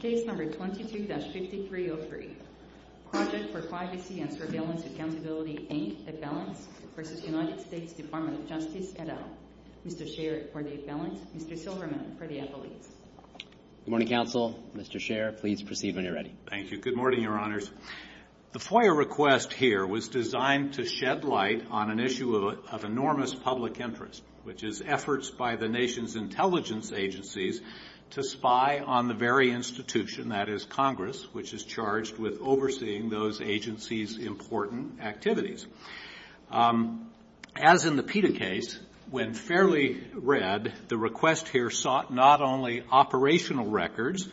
Case No. 22-5303, Project for Privacy and Surveillance Accountability, Inc., At Balance, v. United States Department of Justice, et al. Mr. Scherer, for the At Balance. Mr. Silverman, for the At Police. Good morning, Counsel. Mr. Scherer, please proceed when you're ready. Thank you. Good morning, Your Honors. The FOIA request here was designed to shed light on an issue of enormous public interest, which is efforts by the nation's intelligence agencies to spy on the very institution, that is, Congress, which is charged with overseeing those agencies' important activities. As in the PETA case, when fairly read, the request here sought not only operational records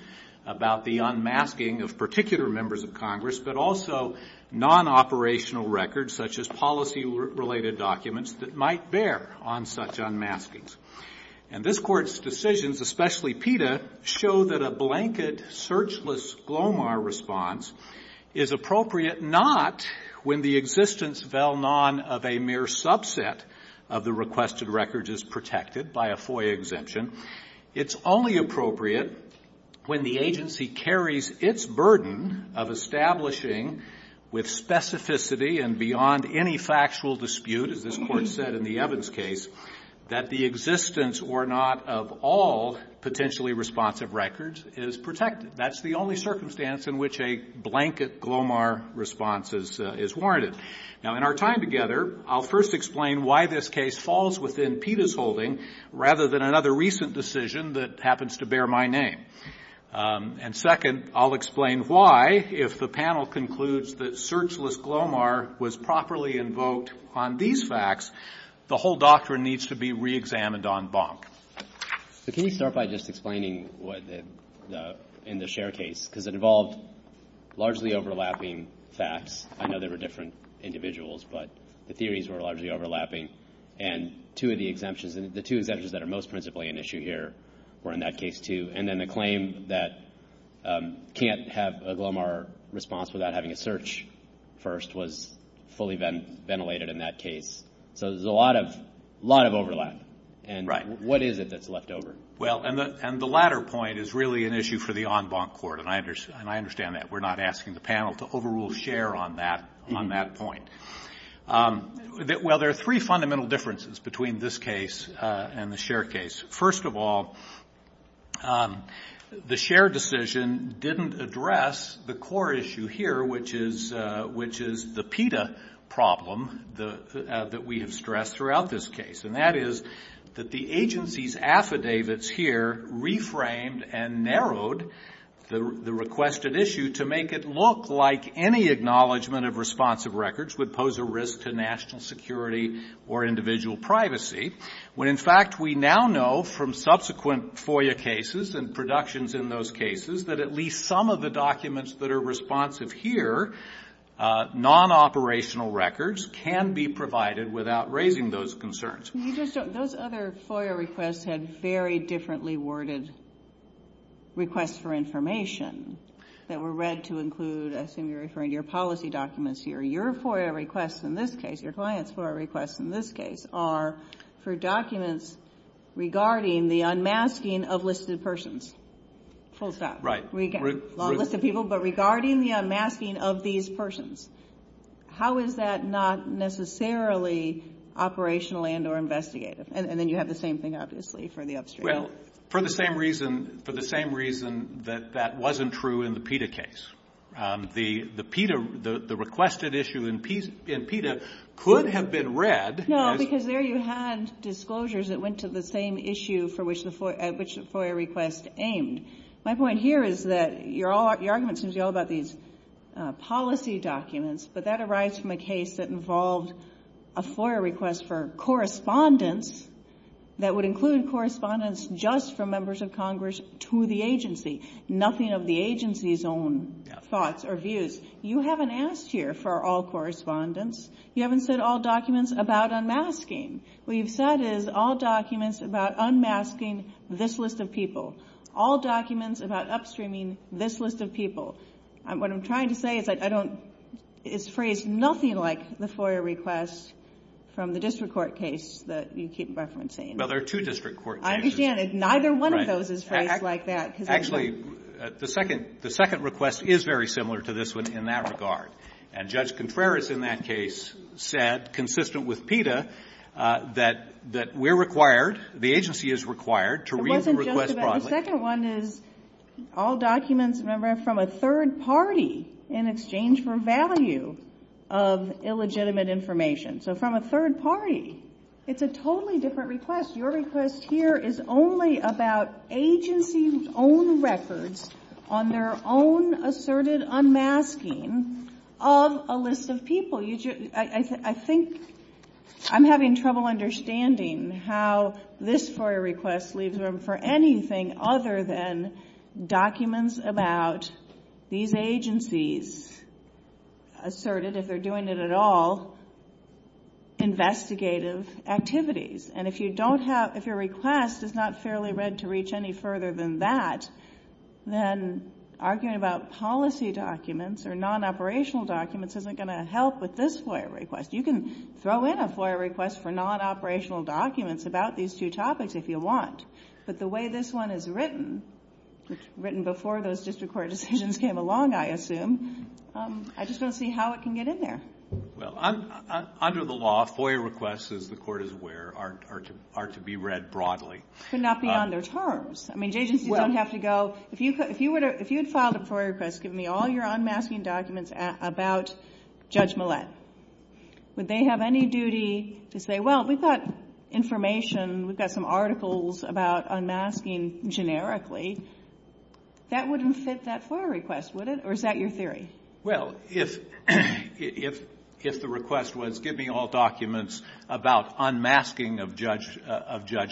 about the unmasking of particular members of Congress, but also non-operational records, such as policy-related documents, that might bear on such unmaskings. And this Court's decisions, especially PETA, show that a blanket, searchless, GLOMAR response is appropriate not when the existence, vel non, of a mere subset of the requested records is protected by a FOIA exemption. It's only appropriate when the agency carries its burden of establishing with specificity and beyond any factual dispute, as this Court said in the Evans case, that the existence or not of all potentially responsive records is protected. That's the only circumstance in which a blanket GLOMAR response is warranted. Now, in our time together, I'll first explain why this case falls within PETA's rather than another recent decision that happens to bear my name. And second, I'll explain why, if the panel concludes that searchless GLOMAR was properly invoked on these facts, the whole doctrine needs to be reexamined on Bonk. So can you start by just explaining what the — in the Sher case, because it involved largely overlapping facts. I know there were different individuals, but the theories were largely overlapping. And two of the exemptions — the two exemptions that are most principally an issue here were in that case, too. And then the claim that can't have a GLOMAR response without having a search first was fully ventilated in that case. So there's a lot of — a lot of overlap. And what is it that's left over? Well, and the latter point is really an issue for the en Bonc Court, and I understand that. We're not asking the panel to overrule Sher on that point. Well, there are three fundamental differences between this case and the Sher case. First of all, the Sher decision didn't address the core issue here, which is — which is the PETA problem that we have stressed throughout this case. And that is that the agency's affidavits here reframed and narrowed the requested issue to make it look like any acknowledgement of responsive records would pose a risk to national security or individual privacy, when, in fact, we now know from subsequent FOIA cases and productions in those cases that at least some of the documents that are responsive here, non-operational records, can be provided without raising those concerns. But you just don't — those other FOIA requests had very differently worded requests for information that were read to include — I assume you're referring to your policy documents here. Your FOIA requests in this case, your clients' FOIA requests in this case, are for documents regarding the unmasking of listed persons. Full stop. We get a lot of listed people, but regarding the unmasking of these persons, how is that not necessarily operational and or investigative? And then you have the same thing, obviously, for the upstream. Well, for the same reason — for the same reason that that wasn't true in the PETA case. The PETA — the requested issue in PETA could have been read as — No, because there you had disclosures that went to the same issue for which the — at which the FOIA request aimed. My point here is that your argument seems to be all about these policy documents, but that arises from a case that involved a FOIA request for correspondence that would include correspondence just from members of Congress to the agency, nothing of the agency's own thoughts or views. You haven't asked here for all correspondence. You haven't said all documents about unmasking. What you've said is all documents about unmasking this list of people, all documents about upstreaming this list of people. What I'm trying to say is I don't — it's phrased nothing like the FOIA request from the district court case that you keep referencing. Well, there are two district court cases. I understand that neither one of those is phrased like that. Actually, the second request is very similar to this one in that regard. And Judge Contreras in that case said, consistent with PETA, that we're required, the agency is required to read the request broadly. The second one is all documents, remember, from a third party in exchange for value of illegitimate information. So from a third party. It's a totally different request. Your request here is only about agency's own records on their own asserted unmasking of a list of people. I think I'm having trouble understanding how this FOIA request leaves room for anything other than documents about these agencies asserted, if they're doing it at all, investigative activities. And if you don't have — if your request is not fairly read to reach any further than that, then arguing about policy documents or non-operational documents isn't going to help with this FOIA request. You can throw in a FOIA request for non-operational documents about these two topics if you want. But the way this one is written, written before those district court decisions came along, I assume, I just don't see how it can get in there. Well, under the law, FOIA requests, as the Court is aware, are to be read broadly. But not beyond their terms. I mean, agencies don't have to go — if you had filed a FOIA request giving me all your unmasking documents about Judge Millett, would they have any duty to say, well, we've got information, we've got some articles about unmasking generically, that wouldn't fit that FOIA request, would it? Or is that your theory? Well, if the request was give me all documents about unmasking of Judge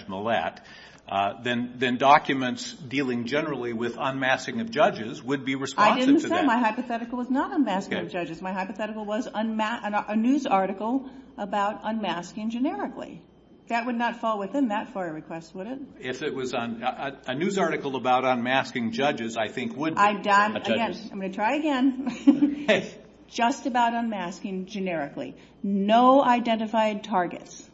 Millett, then documents dealing generally with unmasking of judges would be responsive to that. I didn't say my hypothetical was not unmasking of judges. My hypothetical was a news article about unmasking generically. That would not fall within that FOIA request, would it? If it was on — a news article about unmasking judges, I think, would be. I've done — I'm going to try again. Just about unmasking generically. No identified targets.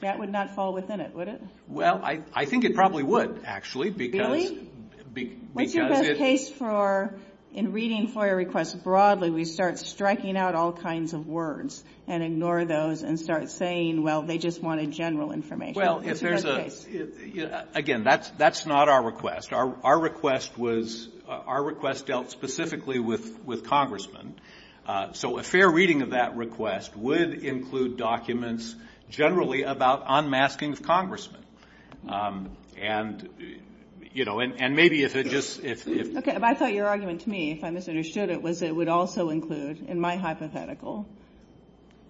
That would not fall within it, would it? Well, I think it probably would, actually. Really? What's your best case for, in reading FOIA requests broadly, we start striking out all kinds of words and ignore those and start saying, well, they just wanted general information? Well, if there's a — Again, that's not our request. Our request was — our request dealt specifically with congressmen. So a fair reading of that request would include documents generally about unmasking of congressmen. And, you know, and maybe if it just — Okay. But I thought your argument to me, if I misunderstood it, was it would also include in my hypothetical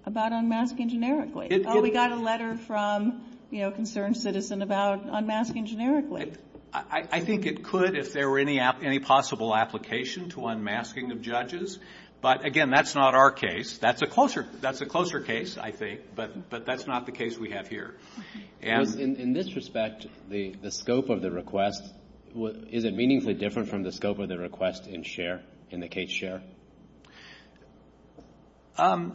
about unmasking generically? Oh, we got a letter from, you know, a concerned citizen about unmasking generically. I think it could if there were any possible application to unmasking of judges. But, again, that's not our case. That's a closer — that's a closer case, I think. But that's not the case we have here. Because in this respect, the scope of the request, is it meaningfully different from the scope of the request in Cher, in the case Cher? I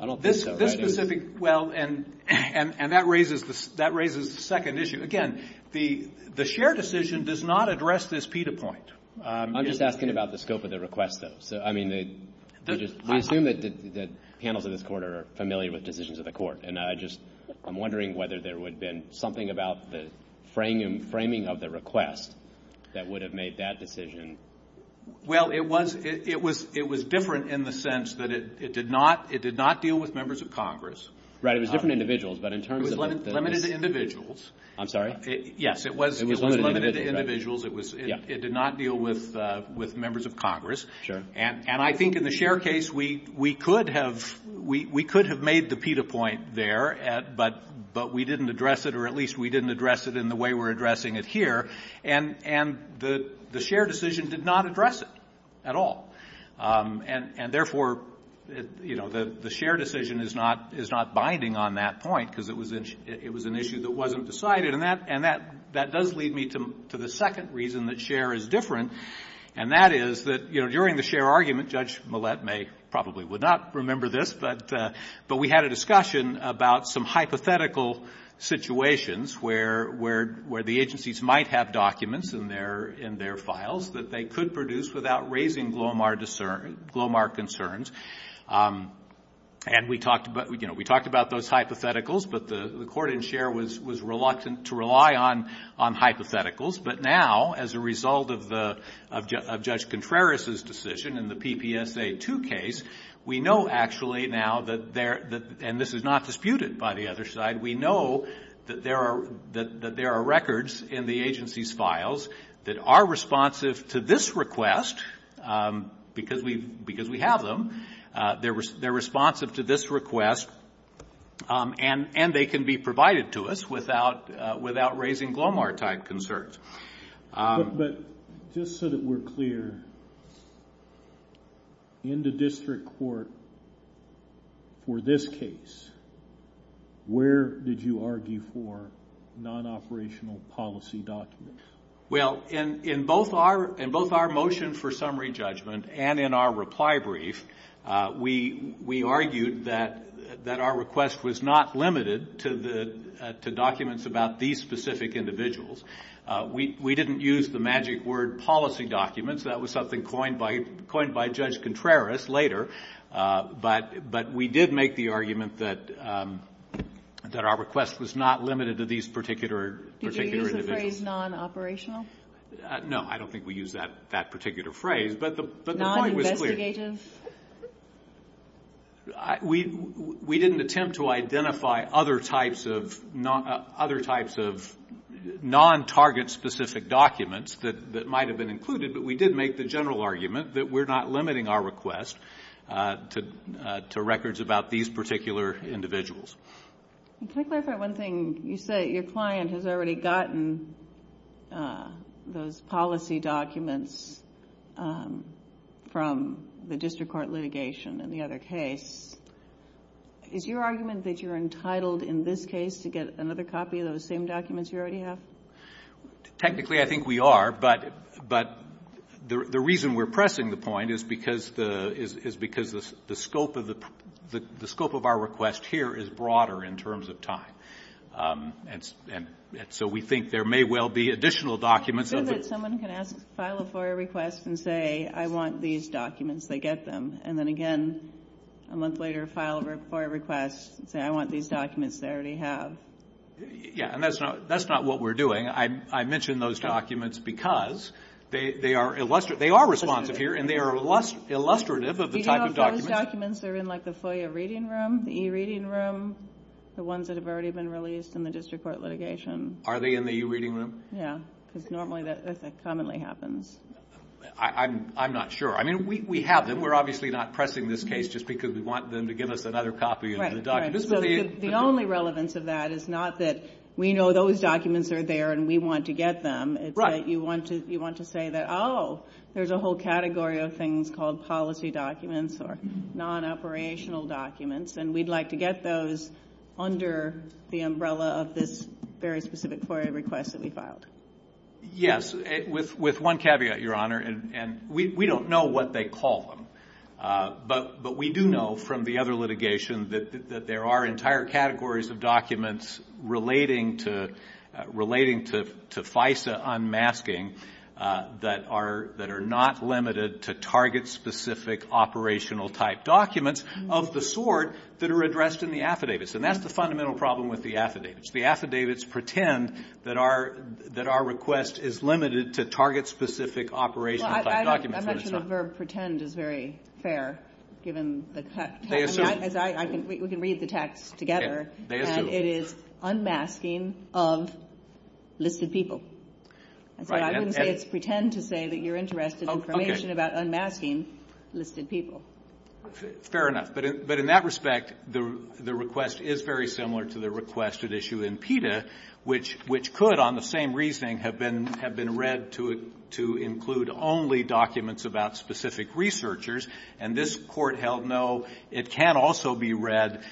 don't think so. This specific — well, and that raises the second issue. Again, the Cher decision does not address this PETA point. I'm just asking about the scope of the request, though. So, I mean, we assume that the panels of this Court are familiar with decisions of the Court. And I just — I'm wondering whether there would have been something about the framing of the request that would have made that decision. Well, it was — it was — it was different in the sense that it did not — it did not deal with members of Congress. Right. It was different individuals. But in terms of — It was limited to individuals. I'm sorry? Yes. It was limited to individuals. It was — it did not deal with members of Congress. Sure. And I think in the Cher case, we could have — we could have made the PETA point there, but we didn't address it, or at least we didn't address it in the way we're addressing it here. And the Cher decision did not address it at all. And therefore, you know, the Cher decision is not — is not binding on that point, because it was an issue that wasn't decided. And that — and that — that does lead me to the second reason that Cher is different, and that is that, you know, during the Cher argument, Judge Millett may — probably would not remember this, but we had a discussion about some hypothetical situations where the agencies might have documents in their — in their files that they could produce without raising Glomar concerns. And we talked about — you know, we talked about those hypotheticals, but the court in Cher was reluctant to rely on hypotheticals. But now, as a result of the — of Judge Contreras' decision in the PPSA 2 case, we know actually now that there — and this is not disputed by the other side — we know that there are — that there are records in the agency's files that are responsive to this request, because we — because we have them. They're responsive to this request, and they can be provided to us without — without raising Glomar-type concerns. But just so that we're clear, in the district court for this case, where did you argue for non-operational policy documents? Well, in — in both our — in both our motion for summary judgment and in our reply brief, we — we argued that — that our request was not limited to the — to documents about these specific individuals. We — we didn't use the magic word policy documents. That was something coined by — coined by Judge Contreras later. But — but we did make the argument that — that our request was not limited to these particular — particular individuals. Did you use the phrase non-operational? No. I don't think we used that — that particular phrase. But the — but the point was clear. Non-investigative? We — we didn't attempt to identify other types of — other types of non-target-specific documents that — that might have been included. But we did make the general argument that we're not limiting our request to — to records about these particular individuals. Can I clarify one thing? You say your client has already gotten those policy documents from the district court litigation in the other case. Is your argument that you're entitled, in this case, to get another copy of those same documents you already have? Technically, I think we are. But — but the — the reason we're pressing the point is because the — is — is because the scope of the — the scope of our request here is broader in terms of time. And — and so we think there may well be additional documents. I'm sure that someone can ask — file a FOIA request and say, I want these documents. They get them. And then again, a month later, file a FOIA request and say, I want these documents they already have. Yeah. And that's not — that's not what we're doing. I — I mention those documents because they — they are — they are responsive here, and they are illustrative of the type of documents — Do you know if those documents are in, like, the FOIA reading room, the e-reading room, the ones that have already been released in the district court litigation? Are they in the e-reading room? Yeah. Because normally that — that commonly happens. I'm — I'm not sure. I mean, we — we have them. We're obviously not pressing this case just because we want them to give us another copy of the documents. The only relevance of that is not that we know those documents are there and we want to get them. Right. It's that you want to — you want to say that, oh, there's a whole category of things called policy documents or non-operational documents, and we'd like to get those under the umbrella of this very specific FOIA request that we filed. Yes. With — with one caveat, Your Honor, and — and we — we don't know what they call them. But — but we do know from the other litigation that there are entire categories of documents relating to — relating to FISA unmasking that are — that are not limited to target-specific, operational-type documents of the sort that are addressed in the affidavits. And that's the fundamental problem with the affidavits. The affidavits pretend that our — that our request is limited to target-specific, operational-type documents. I'm not sure the verb pretend is very fair, given the — They assume. I mean, as I — I can — we can read the text together. Okay. They assume. And it is unmasking of listed people. Right. And — And so I wouldn't say it's pretend to say that you're interested in information about unmasking listed people. Fair enough. But in — but in that respect, the — the request is very similar to the requested issue in PETA, which — which could, on the same reasoning, have been — have been read to — to include only documents about specific researchers. And this Court held no. It can also be read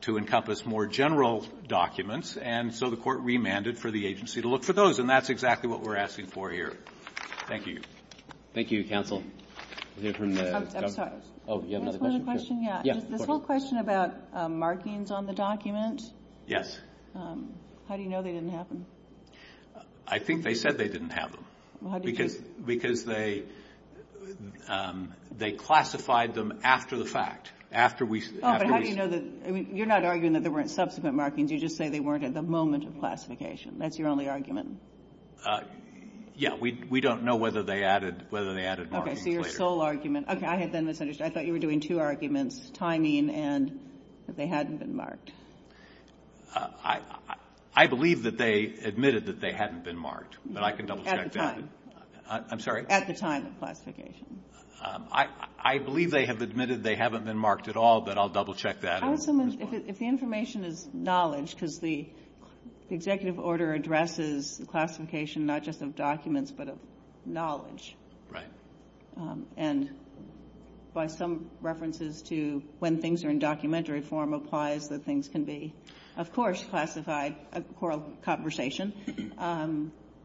to encompass more general documents. And so the Court remanded for the agency to look for those. And that's exactly what we're asking for here. Thank you. Thank you, counsel. I'm sorry. Oh, you have another question? Yeah. Yeah. This whole question about markings on the document. Yes. How do you know they didn't happen? I think they said they didn't have them. Well, how did you — Because they — they classified them after the fact. After we — Oh, but how do you know that — I mean, you're not arguing that there weren't subsequent markings. You just say they weren't at the moment of classification. That's your only argument. Yeah. We — we don't know whether they added — whether they added markings later. Okay. So your sole argument — okay. I had then misunderstood. I thought you were doing two arguments, timing and that they hadn't been marked. I — I believe that they admitted that they hadn't been marked, but I can double-check that. At the time. I'm sorry? At the time of classification. I — I believe they have admitted they haven't been marked at all, but I'll double-check that. How would someone — if the information is knowledge, because the executive order addresses the classification not just of documents, but of knowledge. Right. And by some references to when things are in documentary form, applies that things can be, of course, classified. A quarrel — conversation.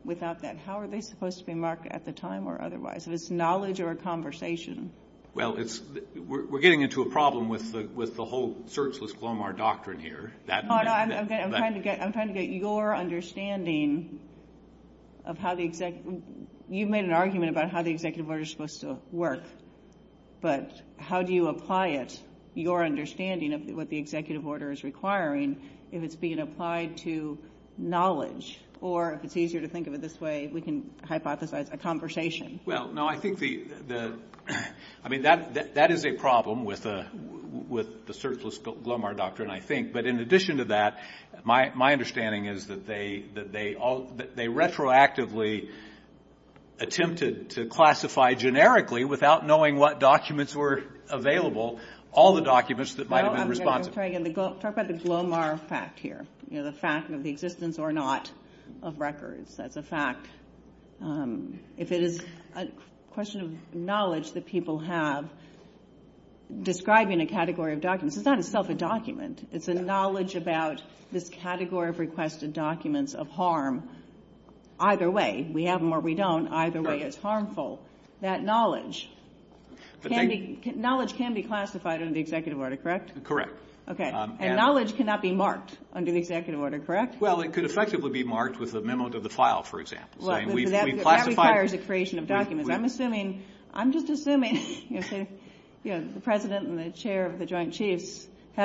Without that, how are they supposed to be marked at the time or otherwise? If it's knowledge or a conversation. Well, it's — we're getting into a problem with the — with the whole searchless Clomar doctrine here. That — Oh, no, I'm trying to get — I'm trying to get your understanding of how the — you've made an argument about how the executive order is supposed to work. But how do you apply it, your understanding of what the executive order is requiring, if it's being applied to knowledge? Or if it's easier to think of it this way, we can hypothesize a conversation. Well, no, I think the — I mean, that — that is a problem with the — with the searchless Clomar doctrine, I think. But in addition to that, my — my understanding is that they — that they all — that they retroactively attempted to classify generically without knowing what documents were available, all the documents that might have been responsive. No, I'm going to — I'm trying to talk about the Clomar fact here. You know, the fact of the existence or not of records. That's a fact. If it is a question of knowledge that people have describing a category of documents, it's not itself a document. It's a knowledge about this category of requested documents of harm either way. We have them or we don't. Either way is harmful. That knowledge can be — knowledge can be classified under the executive order, correct? Correct. Okay. And knowledge cannot be marked under the executive order, correct? Well, it could effectively be marked with a memo to the file, for example. Well, that requires a creation of documents. I'm assuming — I'm just assuming, you know, the President and the chair of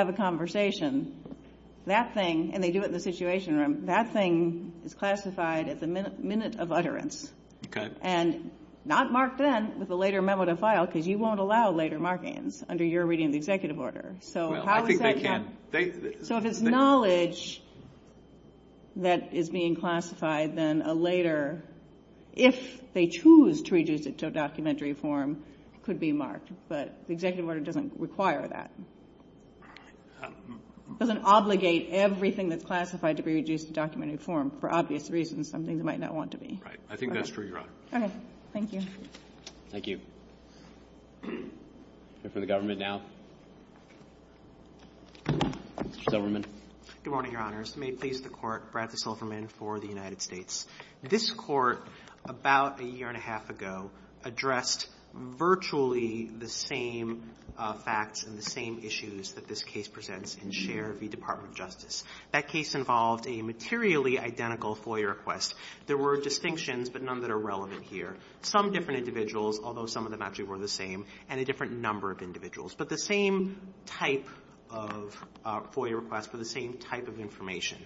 the conversation, that thing — and they do it in the Situation Room — that thing is classified as a minute of utterance. Okay. And not marked then with a later memo to file, because you won't allow later markings under your reading of the executive order. So how is that — Well, I think they can. So if it's knowledge that is being classified, then a later — if they choose to reduce it to a documentary form, it could be marked. But the executive order doesn't require that. Doesn't obligate everything that's classified to be reduced to documentary form, for obvious reasons, something that might not want to be. Right. I think that's true, Your Honor. Okay. Thank you. Thank you. We'll hear from the government now. Mr. Silverman. Good morning, Your Honors. May it please the Court, Bradford Silverman for the United States. This Court, about a year and a half ago, addressed virtually the same facts and the same case presented in Cher v. Department of Justice. That case involved a materially identical FOIA request. There were distinctions, but none that are relevant here. Some different individuals, although some of them actually were the same, and a different number of individuals. But the same type of FOIA request for the same type of information.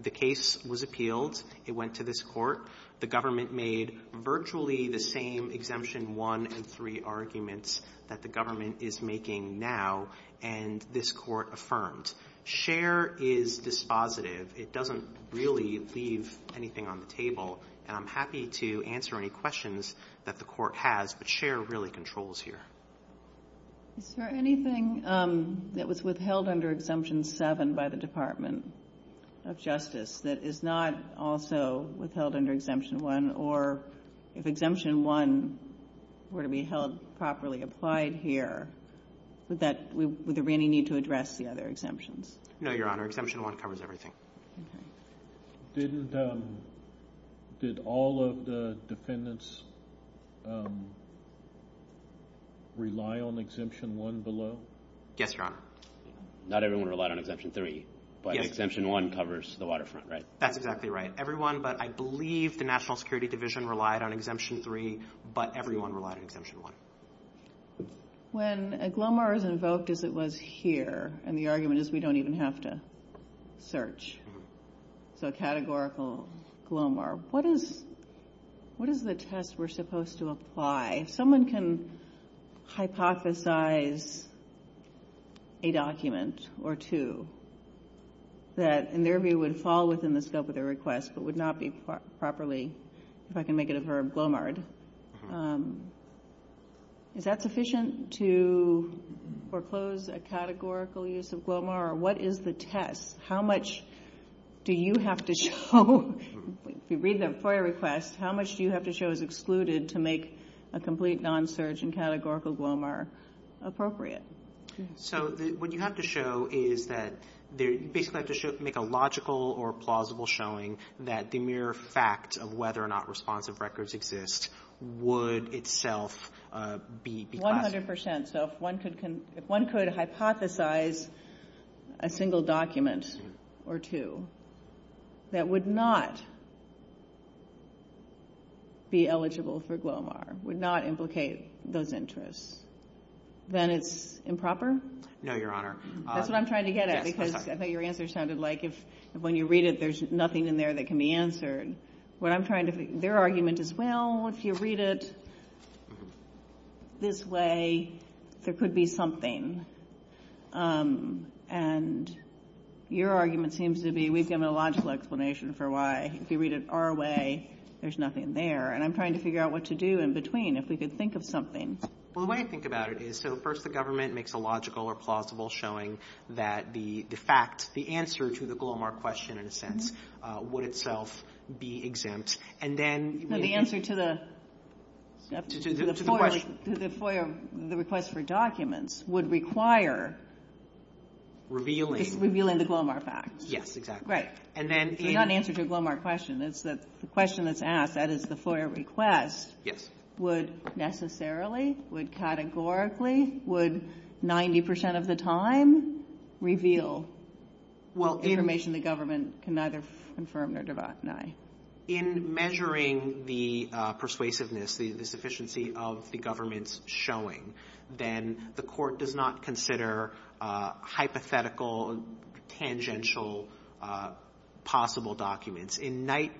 The case was appealed. It went to this Court. The government made virtually the same Exemption 1 and 3 arguments that the government is making now, and this Court affirmed. Cher is dispositive. It doesn't really leave anything on the table, and I'm happy to answer any questions that the Court has, but Cher really controls here. Is there anything that was withheld under Exemption 7 by the Department of Justice that is not also withheld under Exemption 1, or if Exemption 1 were to be held properly applied here, would there be any need to address the other exemptions? No, Your Honor. Exemption 1 covers everything. Did all of the defendants rely on Exemption 1 below? Yes, Your Honor. Not everyone relied on Exemption 3, but Exemption 1 covers the waterfront, right? That's exactly right. Everyone, but I believe the National Security Division relied on Exemption 3, but everyone relied on Exemption 1. When a glomar is invoked as it was here, and the argument is we don't even have to search, so a categorical glomar, what is the test we're supposed to apply? If someone can hypothesize a document or two that, in their view, would fall within the scope of their request but would not be properly, if I can make it a verb, glomared, is that sufficient to foreclose a categorical use of glomar, or what is the test? How much do you have to show, if you read the FOIA request, how much do you have to show is excluded to make a complete non-search and categorical glomar appropriate? So what you have to show is that you basically have to make a logical or plausible showing that the mere fact of whether or not responsive records exist would itself be classified. One hundred percent. So if one could hypothesize a single document or two that would not be eligible for glomar, would not implicate those interests, then it's improper? No, Your Honor. That's what I'm trying to get at because I think your answer sounded like if when you read it, there's nothing in there that can be answered. Their argument is, well, if you read it this way, there could be something. And your argument seems to be, we've given a logical explanation for why. If you read it our way, there's nothing there. And I'm trying to figure out what to do in between, if we could think of something. Well, the way I think about it is, so first, the government makes a logical or plausible showing that the fact, the answer to the glomar question, in a sense, would itself be exempt. And then the answer to the request for documents would require revealing the glomar fact. Yes, exactly. And then the unanswered glomar question is that the question that's asked, that is the Yes. Would necessarily, would categorically, would 90% of the time reveal information the government can neither confirm nor deny? In measuring the persuasiveness, the sufficiency of the government's showing, then the court does not consider hypothetical, tangential, possible documents. Well,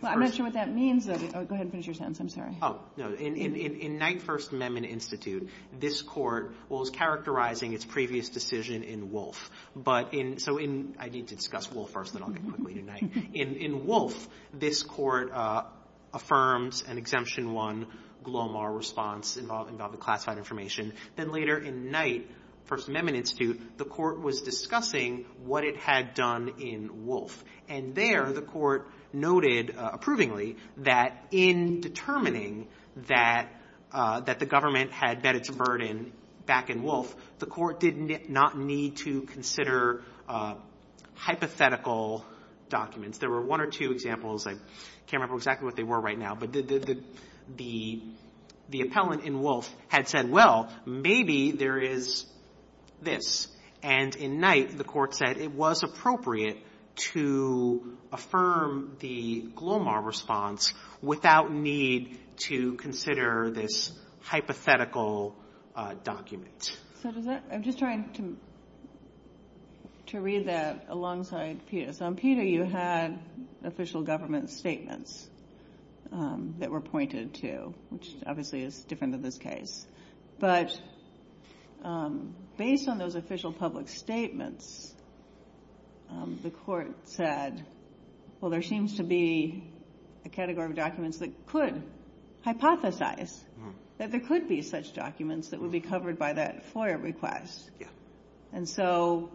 I'm not sure what that means, though. Go ahead and finish your sentence. Oh, no. In Knight First Amendment Institute, this court was characterizing its previous decision in Wolfe. But in, so in, I need to discuss Wolfe first, then I'll get quickly to Knight. In Wolfe, this court affirms an exemption one glomar response involving classified information. Then later in Knight First Amendment Institute, the court was discussing what it had done in Wolfe. And there, the court noted, approvingly, that in determining that the government had bet its burden back in Wolfe, the court did not need to consider hypothetical documents. There were one or two examples. I can't remember exactly what they were right now. But the appellant in Wolfe had said, well, maybe there is this. And in Knight, the court said it was appropriate to affirm the glomar response without need to consider this hypothetical document. So does that, I'm just trying to read that alongside Peter. So on Peter, you had official government statements that were pointed to, which obviously is different in this case. But based on those official public statements, the court said, well, there seems to be a category of documents that could hypothesize that there could be such documents that would be covered by that FOIA request. And so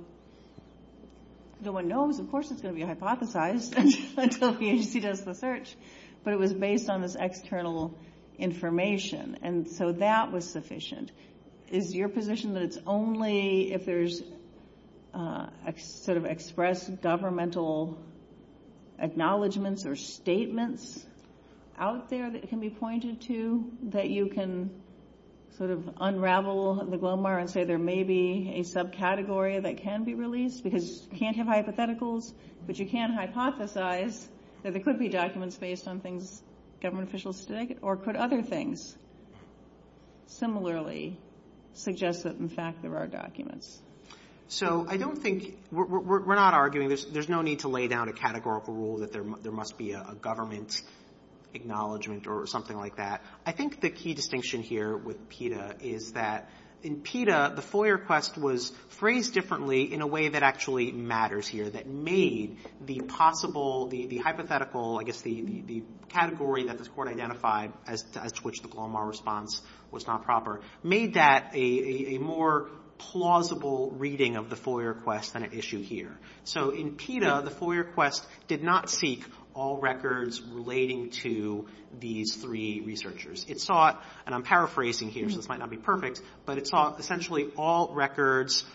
the one knows, of course, it's going to be hypothesized until the agency does the search. But it was based on this external information. And so that was sufficient. Is your position that it's only if there's sort of expressed governmental acknowledgments or statements out there that can be pointed to that you can sort of unravel the glomar and say there may be a subcategory that can be released? Because you can't have hypotheticals, but you can hypothesize that there could be documents based on things government officials said, or could other things? Similarly, suggest that, in fact, there are documents. So I don't think we're not arguing there's no need to lay down a categorical rule that there must be a government acknowledgment or something like that. I think the key distinction here with PETA is that in PETA, the FOIA request was phrased differently in a way that actually matters here, that made the possible, the hypothetical, I guess the category that this Court identified as to which the response was not proper, made that a more plausible reading of the FOIA request than it issued here. So in PETA, the FOIA request did not seek all records relating to these three researchers. It sought, and I'm paraphrasing here, so this might not be perfect, but it sought essentially all records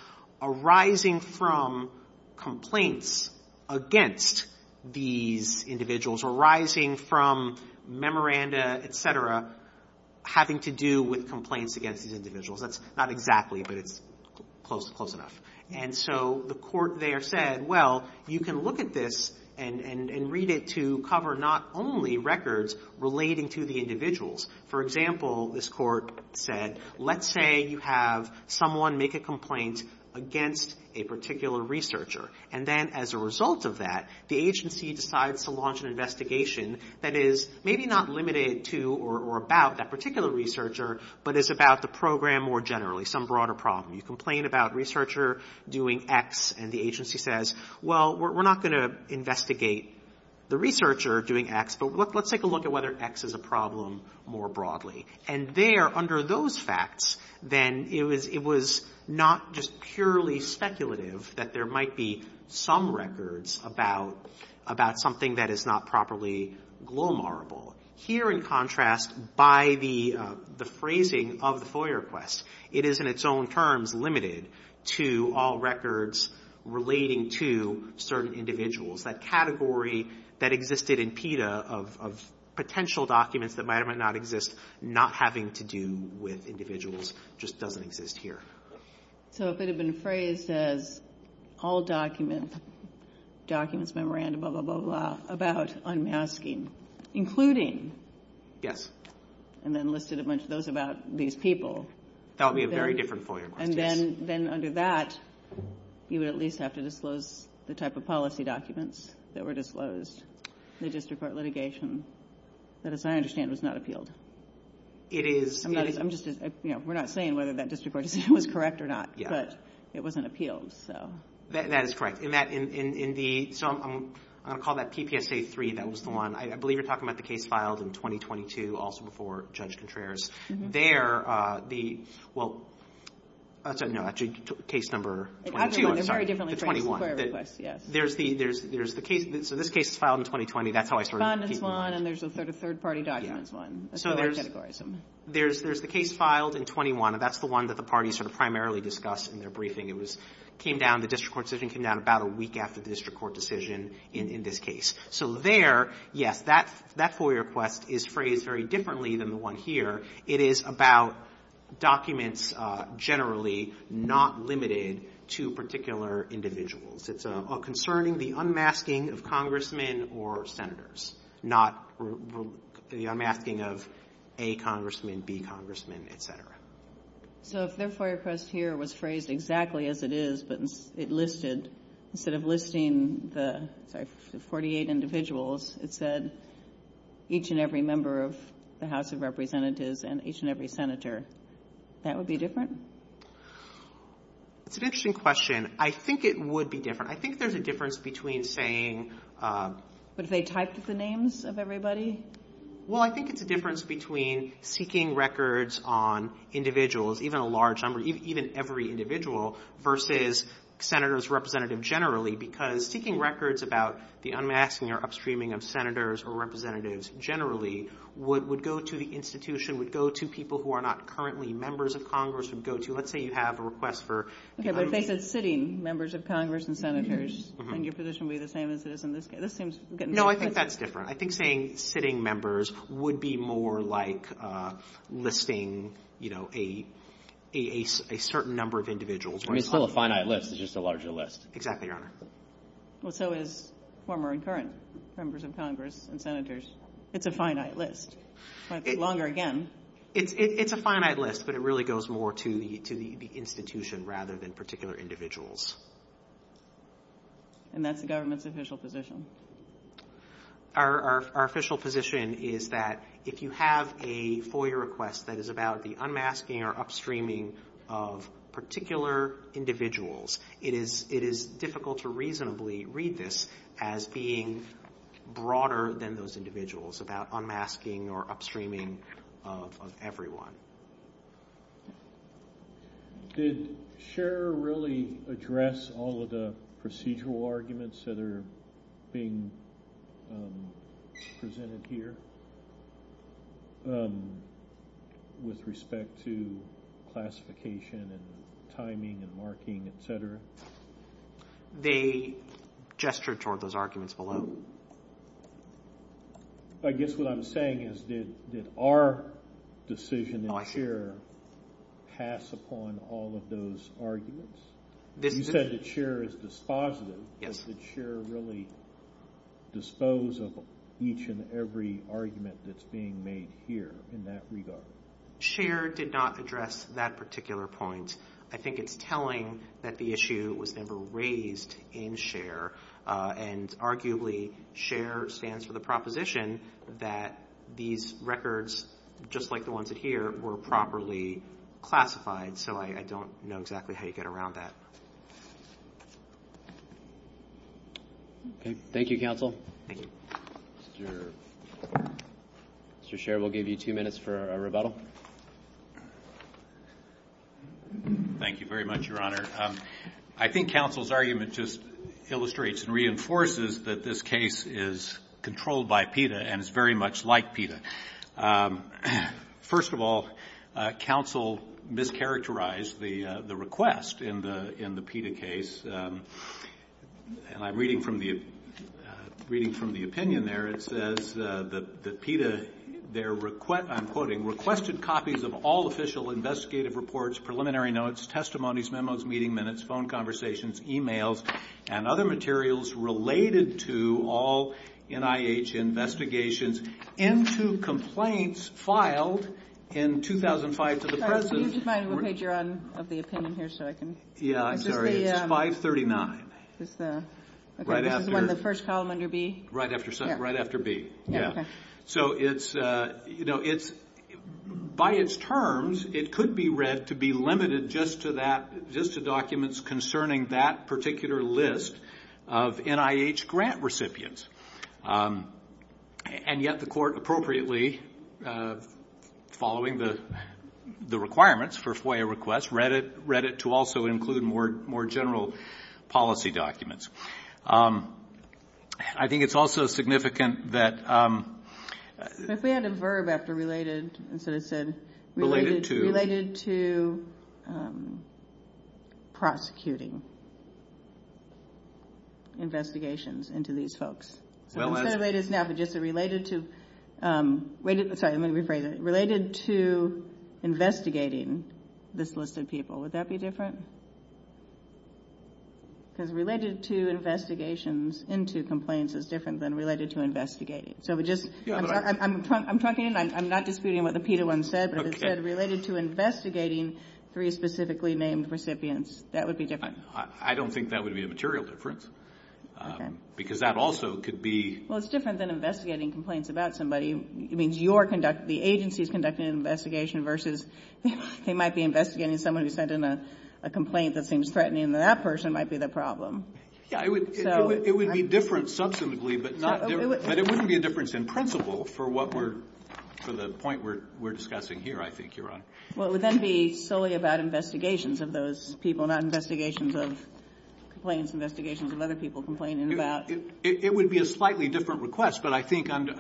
arising from complaints against these individuals, arising from memoranda, et cetera, having to do with complaints against these individuals. That's not exactly, but it's close enough. And so the Court there said, well, you can look at this and read it to cover not only records relating to the individuals. For example, this Court said, let's say you have someone make a complaint against a particular researcher, and then as a result of that, the agency decides to conduct an investigation that is maybe not limited to or about that particular researcher, but is about the program more generally, some broader problem. You complain about researcher doing X, and the agency says, well, we're not going to investigate the researcher doing X, but let's take a look at whether X is a problem more broadly. And there, under those facts, then it was not just purely speculative that there might be some records about something that is not properly glomorable. Here, in contrast, by the phrasing of the FOIA request, it is in its own terms limited to all records relating to certain individuals. That category that existed in PETA of potential documents that might or might not exist not having to do with individuals just doesn't exist here. So if it had been phrased as all documents, documents, memorandum, blah, blah, blah, blah, about unmasking, including. And then listed a bunch of those about these people. That would be a very different FOIA request, yes. And then under that, you would at least have to disclose the type of policy documents that were disclosed in the district court litigation that, as I understand, was not appealed. It is. I'm just, you know, we're not saying whether that district court decision was correct or not, but it wasn't appealed, so. That is correct. In that, in the, so I'm going to call that PPSA 3, that was the one. I believe you're talking about the case filed in 2022, also before Judge Contreras. There, the, well, no, actually case number 22, I'm sorry, the 21. The FOIA request, yes. There's the, there's the case, so this case is filed in 2020. That's how I started. Respondents won, and there's a third party documents won. That's the other category. So there's, there's the case filed in 21, and that's the one that the parties sort of primarily discussed in their briefing. It was, came down, the district court decision came down about a week after the district court decision in this case. So there, yes, that FOIA request is phrased very differently than the one here. It is about documents generally not limited to particular individuals. It's concerning the unmasking of congressmen or senators, not the unmasking of A congressman, B congressman, et cetera. So if their FOIA request here was phrased exactly as it is, but it listed, instead of listing the, sorry, 48 individuals, it said each and every member of the House of Representatives and each and every senator, that would be different? It's an interesting question. I think it would be different. I think there's a difference between saying... But if they typed the names of everybody? Well, I think it's a difference between seeking records on individuals, even a large number, even every individual versus senators, representative generally, because seeking records about the unmasking or upstreaming of senators or representatives generally would go to the institution, would go to people who are not currently members of Congress, would go to, let's say you have a request for... Okay, but if they said sitting members of Congress and senators, then your position would be the same as it is in this case. This seems... No, I think that's different. I think saying sitting members would be more like listing a certain number of individuals. I mean, it's still a finite list. It's just a larger list. Exactly, Your Honor. Well, so is former and current members of Congress and senators. It's a finite list. It might be longer again. It's a finite list, but it really goes more to the institution rather than particular individuals. And that's the government's official position? Our official position is that if you have a FOIA request that is about the unmasking or upstreaming of particular individuals, it is difficult to reasonably read this as being broader than those individuals, about unmasking or upstreaming of everyone. Did Scherer really address all of the procedural arguments that are being presented here with respect to classification and timing and marking, et cetera? They gestured toward those arguments below. So I guess what I'm saying is did our decision in Scherer pass upon all of those arguments? You said that Scherer is dispositive, but did Scherer really dispose of each and every argument that's being made here in that regard? Scherer did not address that particular point. I think it's telling that the issue was never raised in Scherer. And arguably, Scherer stands for the proposition that these records, just like the ones that here, were properly classified. So I don't know exactly how you get around that. Okay. Thank you, counsel. Mr. Scherer, we'll give you two minutes for a rebuttal. Thank you very much, Your Honor. I think counsel's argument just illustrates and reinforces that this case is controlled by PETA and is very much like PETA. First of all, counsel mischaracterized the request in the PETA case. And I'm reading from the opinion there. It says that PETA, I'm quoting, requested copies of all official investigative reports, preliminary notes, testimonies, memos, meeting minutes, phone conversations, e-mails, and other materials related to all NIH investigations into complaints filed in 2005 to the President. Could you just remind me what page you're on of the opinion here so I can? Yeah. I'm sorry. It's 539. This is one of the first column under B? Right after B. So by its terms, it could be read to be limited just to documents concerning that particular list of NIH grant recipients. And yet the court appropriately, following the requirements for FOIA requests, read it to also include more general policy documents. I think it's also significant that... If we had a verb after related, instead of said... Related to. Related to prosecuting investigations into these folks. So instead of related now, but just related to, sorry, I'm going to rephrase it. Related to investigating this list of people. Would that be different? Because related to investigations into complaints is different than related to investigating. So we just... Yeah, but I... I'm talking, I'm not disputing what the PETA one said, but if it said related to investigating three specifically named recipients, that would be different. I don't think that would be a material difference, because that also could be... Well, it's different than investigating complaints about somebody. It means your conduct, the agency's conducting an investigation versus they might be investigating someone who sent in a complaint that seems threatening, and that person might be the problem. Yeah, it would be different substantively, but not... But it wouldn't be a difference in principle for what we're... For the point we're discussing here, I think, Your Honor. Well, it would then be solely about investigations of those people, not investigations of complaints, investigations of other people complaining about... It would be a slightly different request, but I think under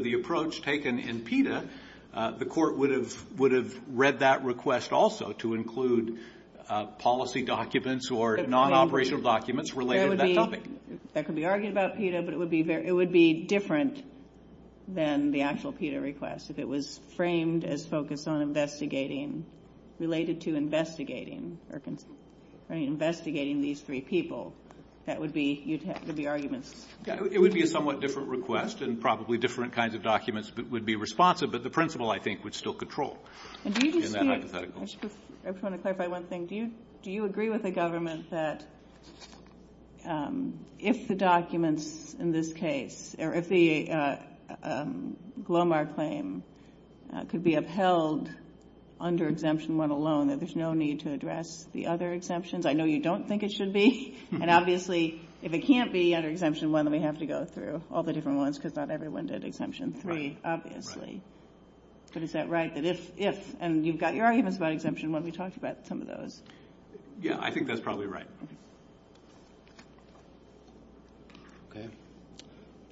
the approach taken in PETA, the court would have read that request also to include policy documents or non-operational documents related to that topic. That could be argued about PETA, but it would be very... It would be different than the actual PETA request. If it was framed as focused on investigating, related to investigating, or investigating these three people, that would be... You'd have... There'd be arguments. It would be a somewhat different request, and probably different kinds of documents would be responsive, but the principle, I think, would still control in that hypothetical. I just want to clarify one thing. Do you agree with the government that if the documents in this case, or if the Glomar claim could be upheld under Exemption 1 alone, that there's no need to address the other exemptions? I know you don't think it should be. And obviously, if it can't be under Exemption 1, then we have to go through all the different ones, because not everyone did Exemption 3. Obviously. But is that right? That if... And you've got your arguments about Exemption 1. We talked about some of those. Yeah, I think that's probably right. Okay.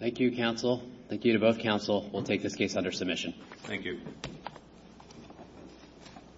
Thank you, counsel. Thank you to both counsel. We'll take this case under submission. Thank you.